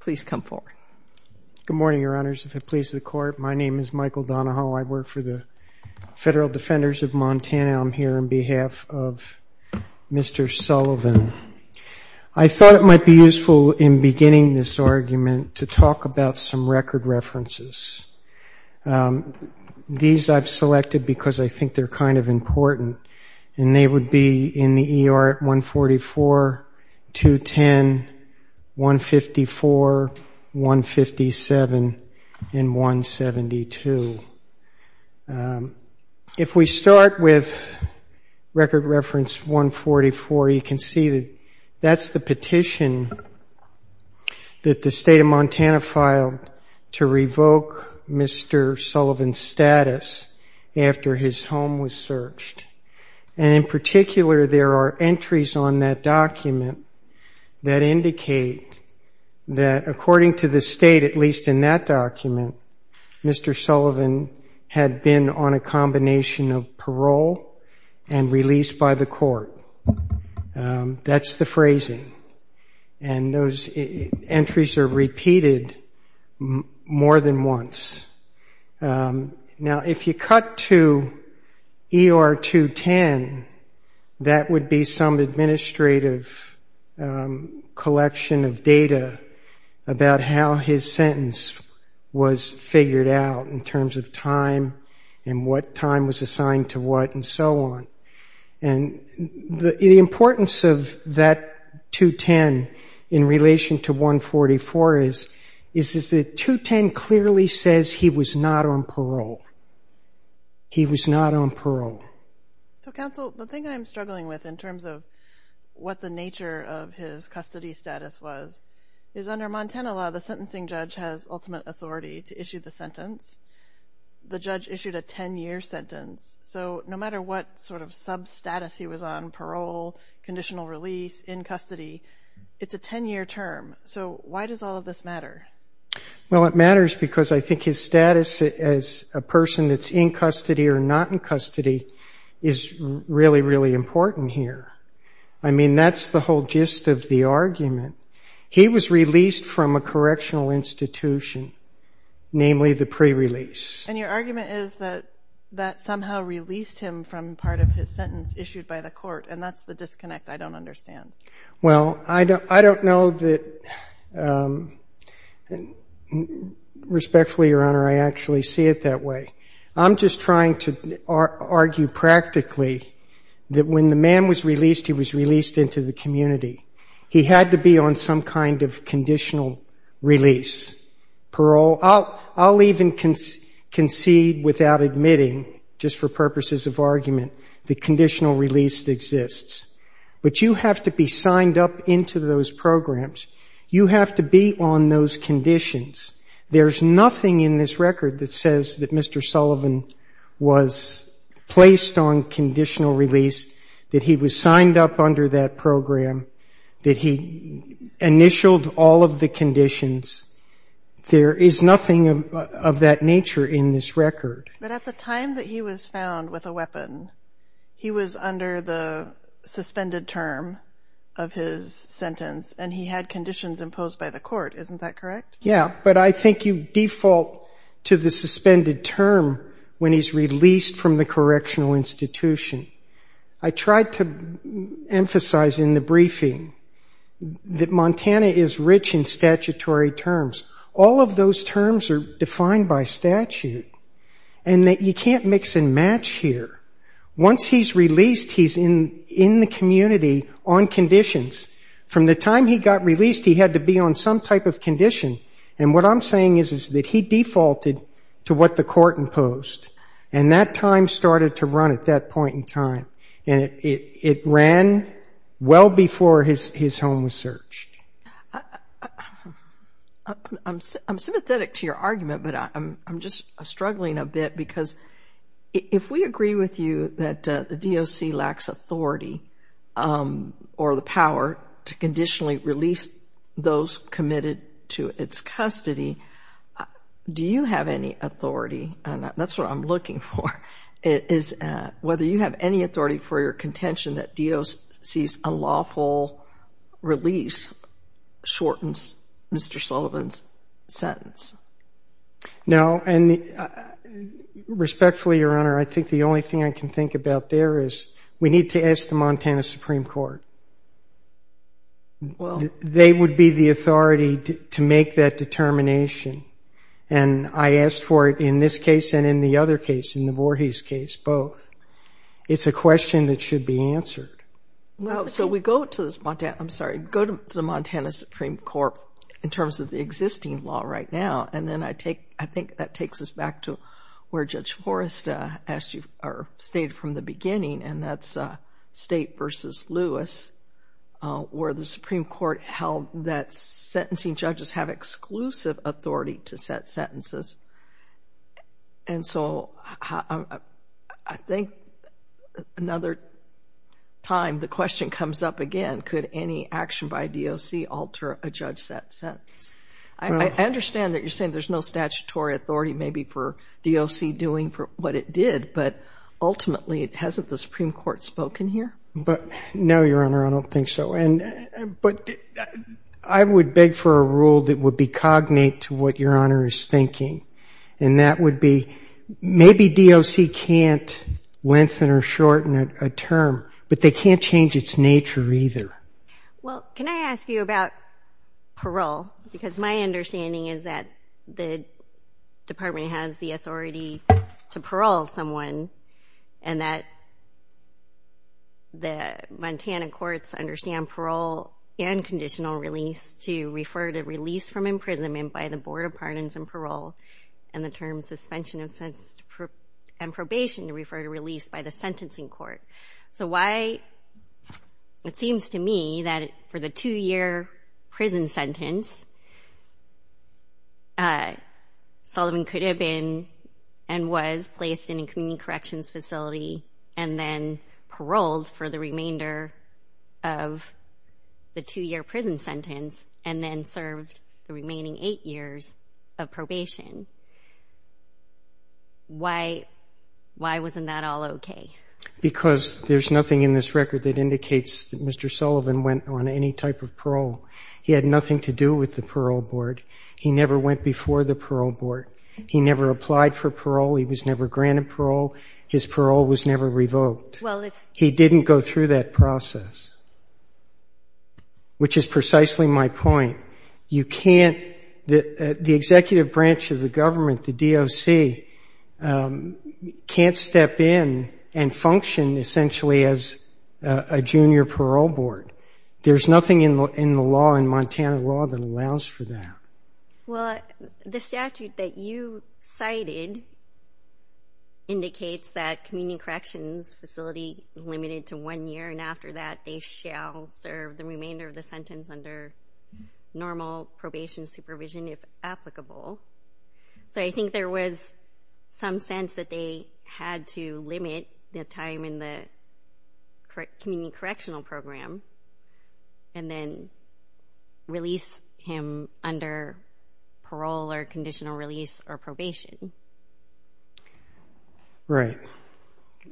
Please come forward. Good morning, Your Honors. If it pleases the Court, my name is Michael Donahoe. I work for the Federal Defenders of Montana. I'm here on behalf of Mr. Sullivan. I thought it might be useful in beginning this argument to talk about some record references. These I've selected because I think they're kind of important, and they would be in the ER at 144, 210, 154, 157, and 172. If we start with record reference 144, you can see that that's the petition that the State of Montana filed to revoke Mr. Sullivan's status after his home was searched. And in particular, there are entries on that document that indicate that, according to the State, at least in that document, Mr. Sullivan had been on a combination of parole and release by the court. That's the phrasing. And those entries are repeated more than once. Now, if you cut to ER 210, that would be some administrative collection of data about how his sentence was figured out in terms of time and what time was assigned to what and so on. And the importance of that 210 in relation to 144 is that 210 clearly says he was not on parole. So, Counsel, the thing I'm struggling with in terms of what the nature of his custody status was is under Montana law, the sentencing judge has ultimate authority to issue the sentence. The judge issued a 10-year sentence. So no matter what sort of substatus he was on, parole, conditional release, in custody, it's a 10-year term. So why does all of this matter? Well, it matters because I think his status as a person that's in custody or not in custody is really, really important here. I mean, that's the whole gist of the argument. He was released from a correctional institution, namely the pre-release. And your argument is that that somehow released him from part of his sentence issued by the court, and that's the disconnect I don't understand. Well, I don't know that respectfully, Your Honor, I actually see it that way. I'm just trying to argue practically that when the man was released, he was released into the community. He had to be on some kind of conditional release. Parole, I'll even concede without admitting, just for purposes of argument, the conditional release exists. But you have to be signed up into those programs. You have to be on those conditions. There's nothing in this record that says that Mr. Sullivan was placed on conditional release, that he was signed up under that program, that he initialed all of the conditions. But at the time that he was found with a weapon, he was under the suspended term of his sentence, and he had conditions imposed by the court. Isn't that correct? Yeah, but I think you default to the suspended term when he's released from the correctional institution. I tried to emphasize in the briefing that Montana is rich in statutory terms. All of those terms are defined by statute, and that you can't mix and match here. Once he's released, he's in the community on conditions. From the time he got released, he had to be on some type of condition, and what I'm saying is that he defaulted to what the court imposed, and that time started to run at that point in time, and it ran well before his home was searched. I'm sympathetic to your argument, but I'm just struggling a bit, because if we agree with you that the DOC lacks authority or the power to conditionally release those committed to its custody, do you have any authority, and that's what I'm looking for, whether you have any authority for your contention that DOC's unlawful release shortens Mr. Sullivan's sentence? No, and respectfully, Your Honor, I think the only thing I can think about there is we need to ask the Montana Supreme Court. They would be the authority to make that determination, and I asked for it in this case and in the other case, in the Voorhees case, both. It's a question that should be answered. So we go to the Montana Supreme Court in terms of the existing law right now, and then I think that takes us back to where Judge Forrest stated from the beginning, and that's State v. Lewis, where the Supreme Court held that sentencing judges have exclusive authority to set sentences. And so I think another time the question comes up again, could any action by DOC alter a judge-set sentence? I understand that you're saying there's no statutory authority maybe for DOC doing what it did, but ultimately hasn't the Supreme Court spoken here? No, Your Honor, I don't think so. But I would beg for a rule that would be cognate to what Your Honor is thinking, and that would be maybe DOC can't lengthen or shorten a term, but they can't change its nature either. Well, can I ask you about parole? Because my understanding is that the department has the authority to parole someone, and that the Montana courts understand parole and conditional release to refer to release from imprisonment by the Board of Pardons and Parole, and the terms suspension and probation to refer to release by the sentencing court. It seems to me that for the two-year prison sentence, Sullivan could have been and was placed in a community corrections facility and then paroled for the remainder of the two-year prison sentence and then served the remaining eight years of probation. Why wasn't that all okay? Because there's nothing in this record that indicates that Mr. Sullivan went on any type of parole. He had nothing to do with the parole board. He never went before the parole board. He never applied for parole. He was never granted parole. His parole was never revoked. He didn't go through that process, which is precisely my point. The executive branch of the government, the DOC, can't step in and function essentially as a junior parole board. There's nothing in the law, in Montana law, that allows for that. Well, the statute that you cited indicates that community corrections facility is limited to one year, and after that, they shall serve the remainder of the sentence under normal probation supervision if applicable. So I think there was some sense that they had to limit the time in the community correctional program and then release him under parole or conditional release or probation. Right.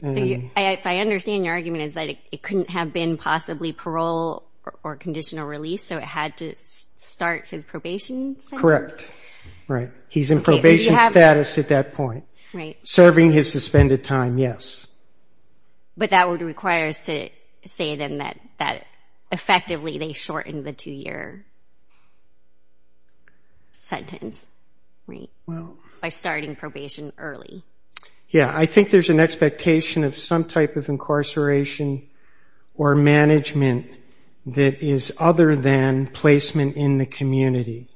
I understand your argument is that it couldn't have been possibly parole or conditional release, so it had to start his probation sentence? Correct. Right. He's in probation status at that point. Serving his suspended time, yes. But that would require us to say then that effectively they shortened the two-year sentence, right, by starting probation early. Yeah, I think there's an expectation of some type of incarceration or management that is other than placement in the community.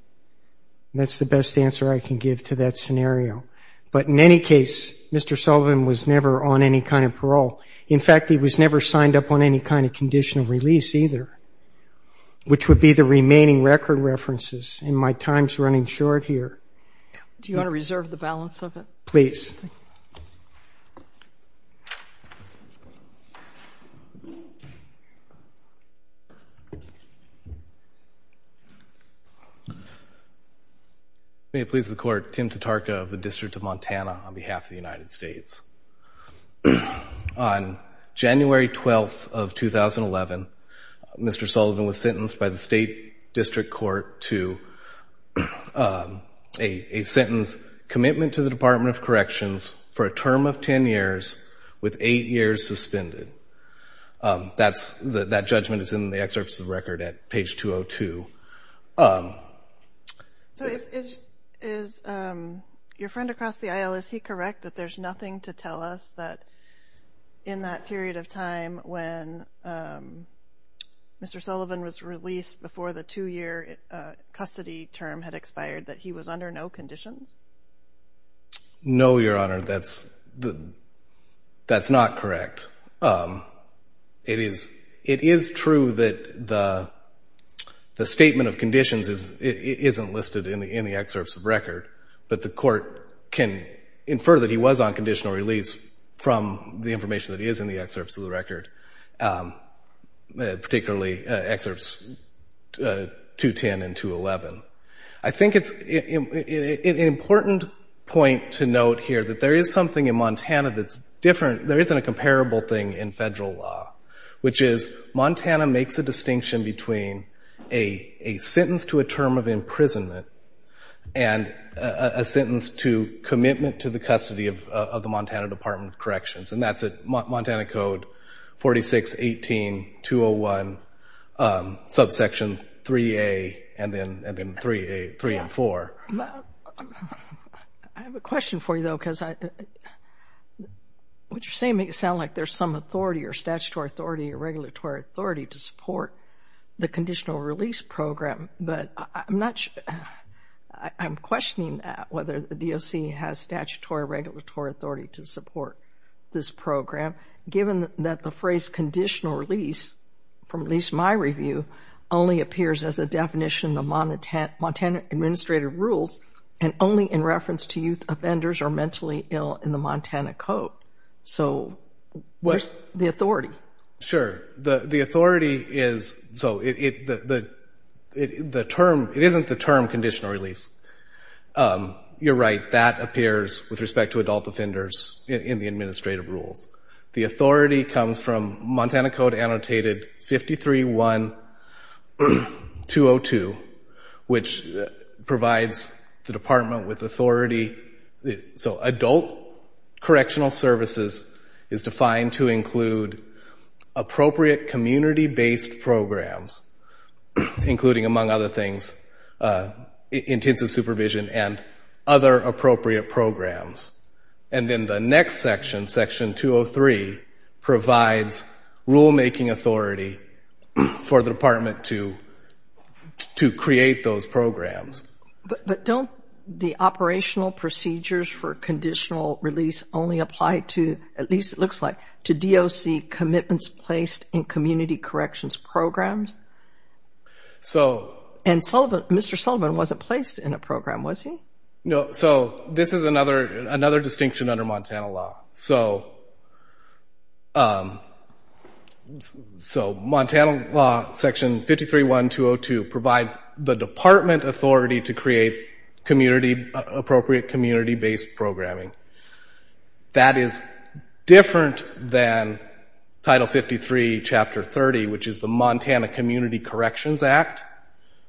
That's the best answer I can give to that scenario. But in any case, Mr. Sullivan was never on any kind of parole. In fact, he was never signed up on any kind of conditional release either, which would be the remaining record references, and my time's running short here. Do you want to reserve the balance of it? Please. May it please the Court, Tim Tatarka of the District of Montana on behalf of the United States. On January 12th of 2011, Mr. Sullivan was sentenced by the State District Court to a sentence, commitment to the Department of Corrections for a term of 10 years with eight years suspended. That judgment is in the excerpts of the record at page 202. Is your friend across the aisle, is he correct that there's nothing to tell us that in that period of time when Mr. Sullivan was released before the two-year custody term had expired, that he was under no conditions? No, Your Honor, that's not correct. It is true that the statement of conditions isn't listed in the excerpts of the record, but the Court can infer that he was on conditional release from the information that is in the excerpts of the record, particularly excerpts 210 and 211. I think it's an important point to note here that there is something in Montana that's different. There isn't a comparable thing in federal law, which is Montana makes a distinction between a sentence to a term of imprisonment and a sentence to commitment to the custody of the Montana Department of Corrections, and that's at Montana Code 4618-201, subsection 3A and then 3A, 3 and 4. I have a question for you, though, because what you're saying makes it sound like there's some authority or statutory authority or regulatory authority to support the conditional release program, but I'm questioning whether the DOC has statutory or regulatory authority to support this program, given that the phrase conditional release, from at least my review, only appears as a definition of Montana administrative rules and only in reference to youth offenders who are mentally ill in the Montana Code. So where's the authority? Sure. The authority is, so the term, it isn't the term conditional release. You're right. That appears with respect to adult offenders in the administrative rules. The authority comes from Montana Code annotated 531-202, which provides the department with authority. So adult correctional services is defined to include appropriate community-based programs, including, among other things, intensive supervision and other appropriate programs. And then the next section, Section 203, provides rulemaking authority for the department to create those programs. But don't the operational procedures for conditional release only apply to, at least it looks like, to DOC commitments placed in community corrections programs? And Mr. Sullivan wasn't placed in a program, was he? No. So this is another distinction under Montana law. So Montana law, Section 531-202, provides the department authority to create appropriate community-based programming. That is different than Title 53, Chapter 30, which is the Montana Community Corrections Act,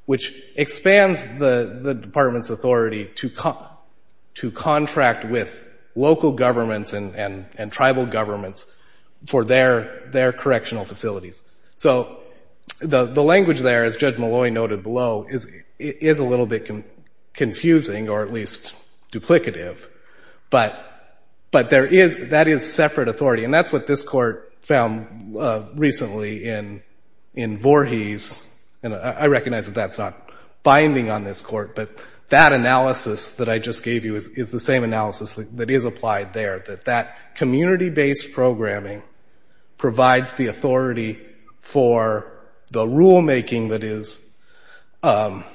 which expands the department's authority to contract with local governments and tribal governments for their correctional facilities. So the language there, as Judge Malloy noted below, is a little bit confusing, or at least duplicative. But that is separate authority, and that's what this Court found recently in Voorhees. I recognize that that's not binding on this Court, but that analysis that I just gave you is the same analysis that is applied there, that that community-based programming provides the authority for the rulemaking that is the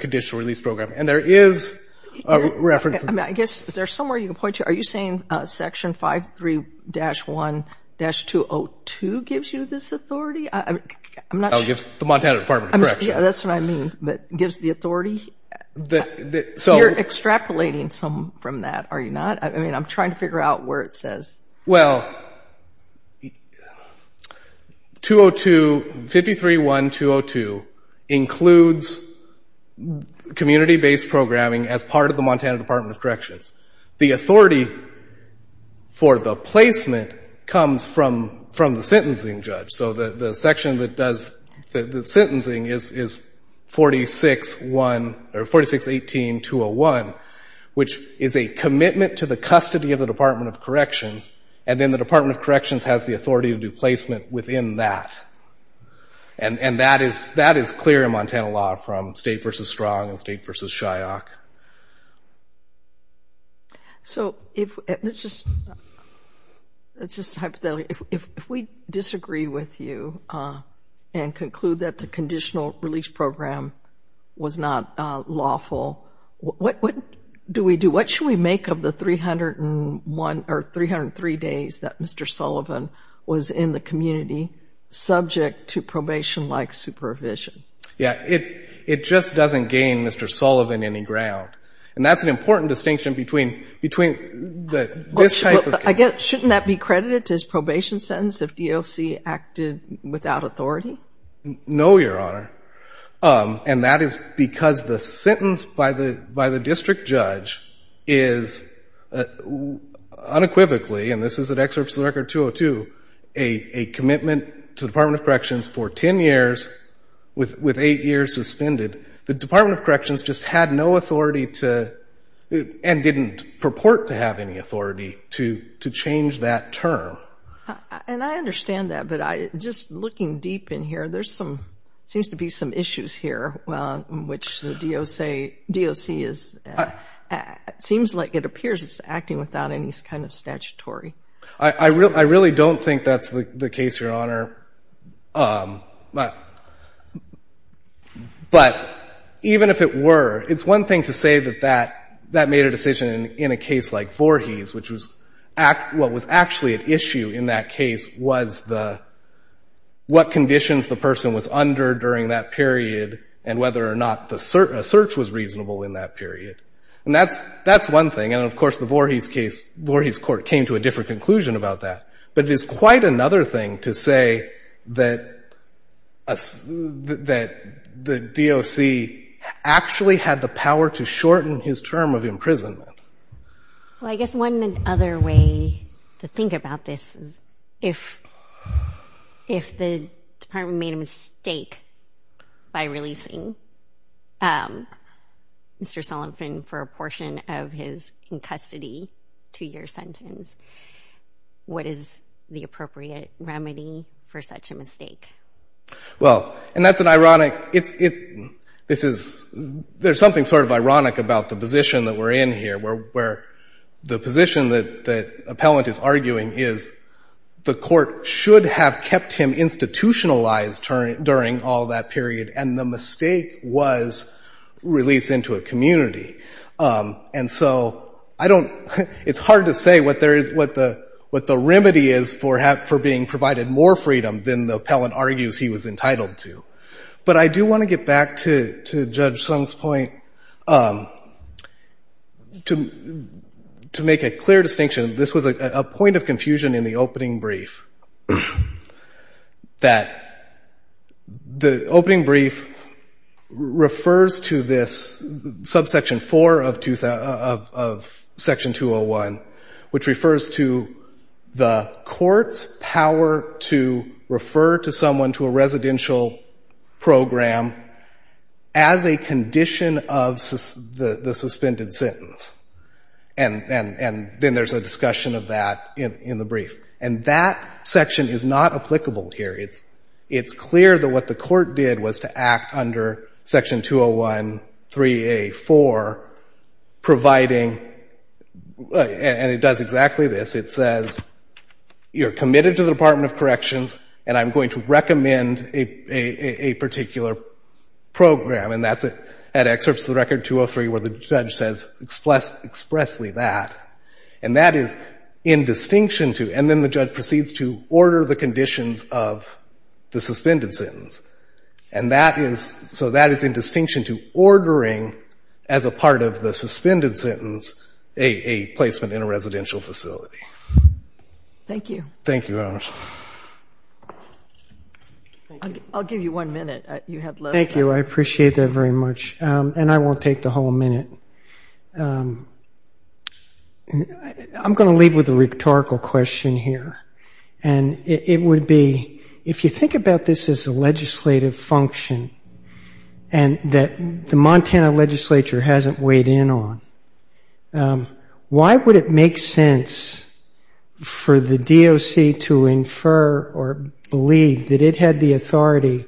conditional release program. And there is a reference to that. I guess, is there somewhere you can point to? Are you saying Section 53-1-202 gives you this authority? Oh, it gives the Montana Department of Corrections. Yeah, that's what I mean. It gives the authority? You're extrapolating some from that, are you not? I mean, I'm trying to figure out where it says. Well, 50-3-1-202 includes community-based programming as part of the Montana Department of Corrections. The authority for the placement comes from the sentencing judge. So the section that does the sentencing is 46-18-201, which is a commitment to the custody of the Department of Corrections, and then the Department of Corrections has the authority to do placement within that. And that is clear in Montana law from State v. Strong and State v. Shyock. So let's just hypothetically, if we disagree with you and conclude that the conditional release program was not lawful, what do we do? What should we make of the 303 days that Mr. Sullivan was in the community subject to probation-like supervision? Yeah, it just doesn't gain Mr. Sullivan any ground. And that's an important distinction between this type of case. Shouldn't that be credited to his probation sentence if DOC acted without authority? No, Your Honor. And that is because the sentence by the district judge is unequivocally, and this is an excerpt from the Record 202, a commitment to the Department of Corrections for 10 years with 8 years suspended. The Department of Corrections just had no authority to, and didn't purport to have any authority to change that term. And I understand that, but just looking deep in here, there seems to be some issues here in which the DOC seems like it appears it's acting without any kind of statutory. I really don't think that's the case, Your Honor. But even if it were, it's one thing to say that that made a decision in a case like Voorhees, which was what was actually at issue in that case was the, what conditions the person was under during that period and whether or not a search was reasonable in that period. And that's one thing. And, of course, the Voorhees case, Voorhees court came to a different conclusion about that. But it is quite another thing to say that the DOC actually had the power to shorten his term of imprisonment. Well, I guess one other way to think about this is if the Department made a mistake by releasing Mr. Sullivan for a portion of his in-custody two-year sentence, what is the appropriate remedy for such a mistake? Well, and that's an ironic, it's, this is, there's something sort of ironic about the position that we're in here, where the position that the appellant is arguing is the court should have kept him institutionalized during all that period and the mistake was released into a community. And so I don't, it's hard to say what there is, what the remedy is for being provided more freedom than the appellant argues he was entitled to. But I do want to get back to Judge Sung's point. To make a clear distinction, this was a point of confusion in the opening brief, that the opening brief refers to this subsection four of section 201, which refers to the court's power to refer to someone to a residential program as a condition of the suspended sentence. And then there's a discussion of that in the brief. And that section is not applicable here. It's clear that what the court did was to act under section 201.3a.4, providing, and it does exactly this. It says, you're committed to the Department of Corrections and I'm going to recommend a particular program. And that's at excerpts of the record 203 where the judge says expressly that. And that is in distinction to, and then the judge proceeds to order the conditions of the suspended sentence. And that is, so that is in distinction to ordering, as a part of the suspended sentence, a placement in a residential facility. Thank you. Thank you, Your Honor. I'll give you one minute. Thank you, I appreciate that very much. And I won't take the whole minute. I'm going to leave with a rhetorical question here. And it would be, if you think about this as a legislative function and that the Montana legislature hasn't weighed in on, why would it make sense for the DOC to infer or believe that it had the authority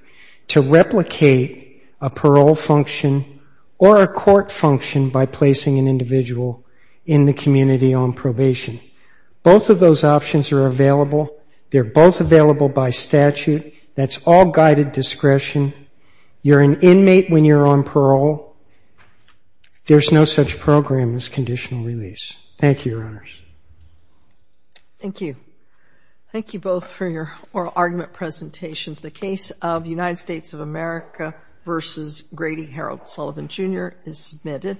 to replicate a parole function or a court function by placing an individual in the community on probation? Both of those options are available. They're both available by statute. That's all guided discretion. You're an inmate when you're on parole. There's no such program as conditional release. Thank you, Your Honors. Thank you. Thank you both for your oral argument presentations. The case of United States of America v. Grady Harold Sullivan, Jr. is submitted.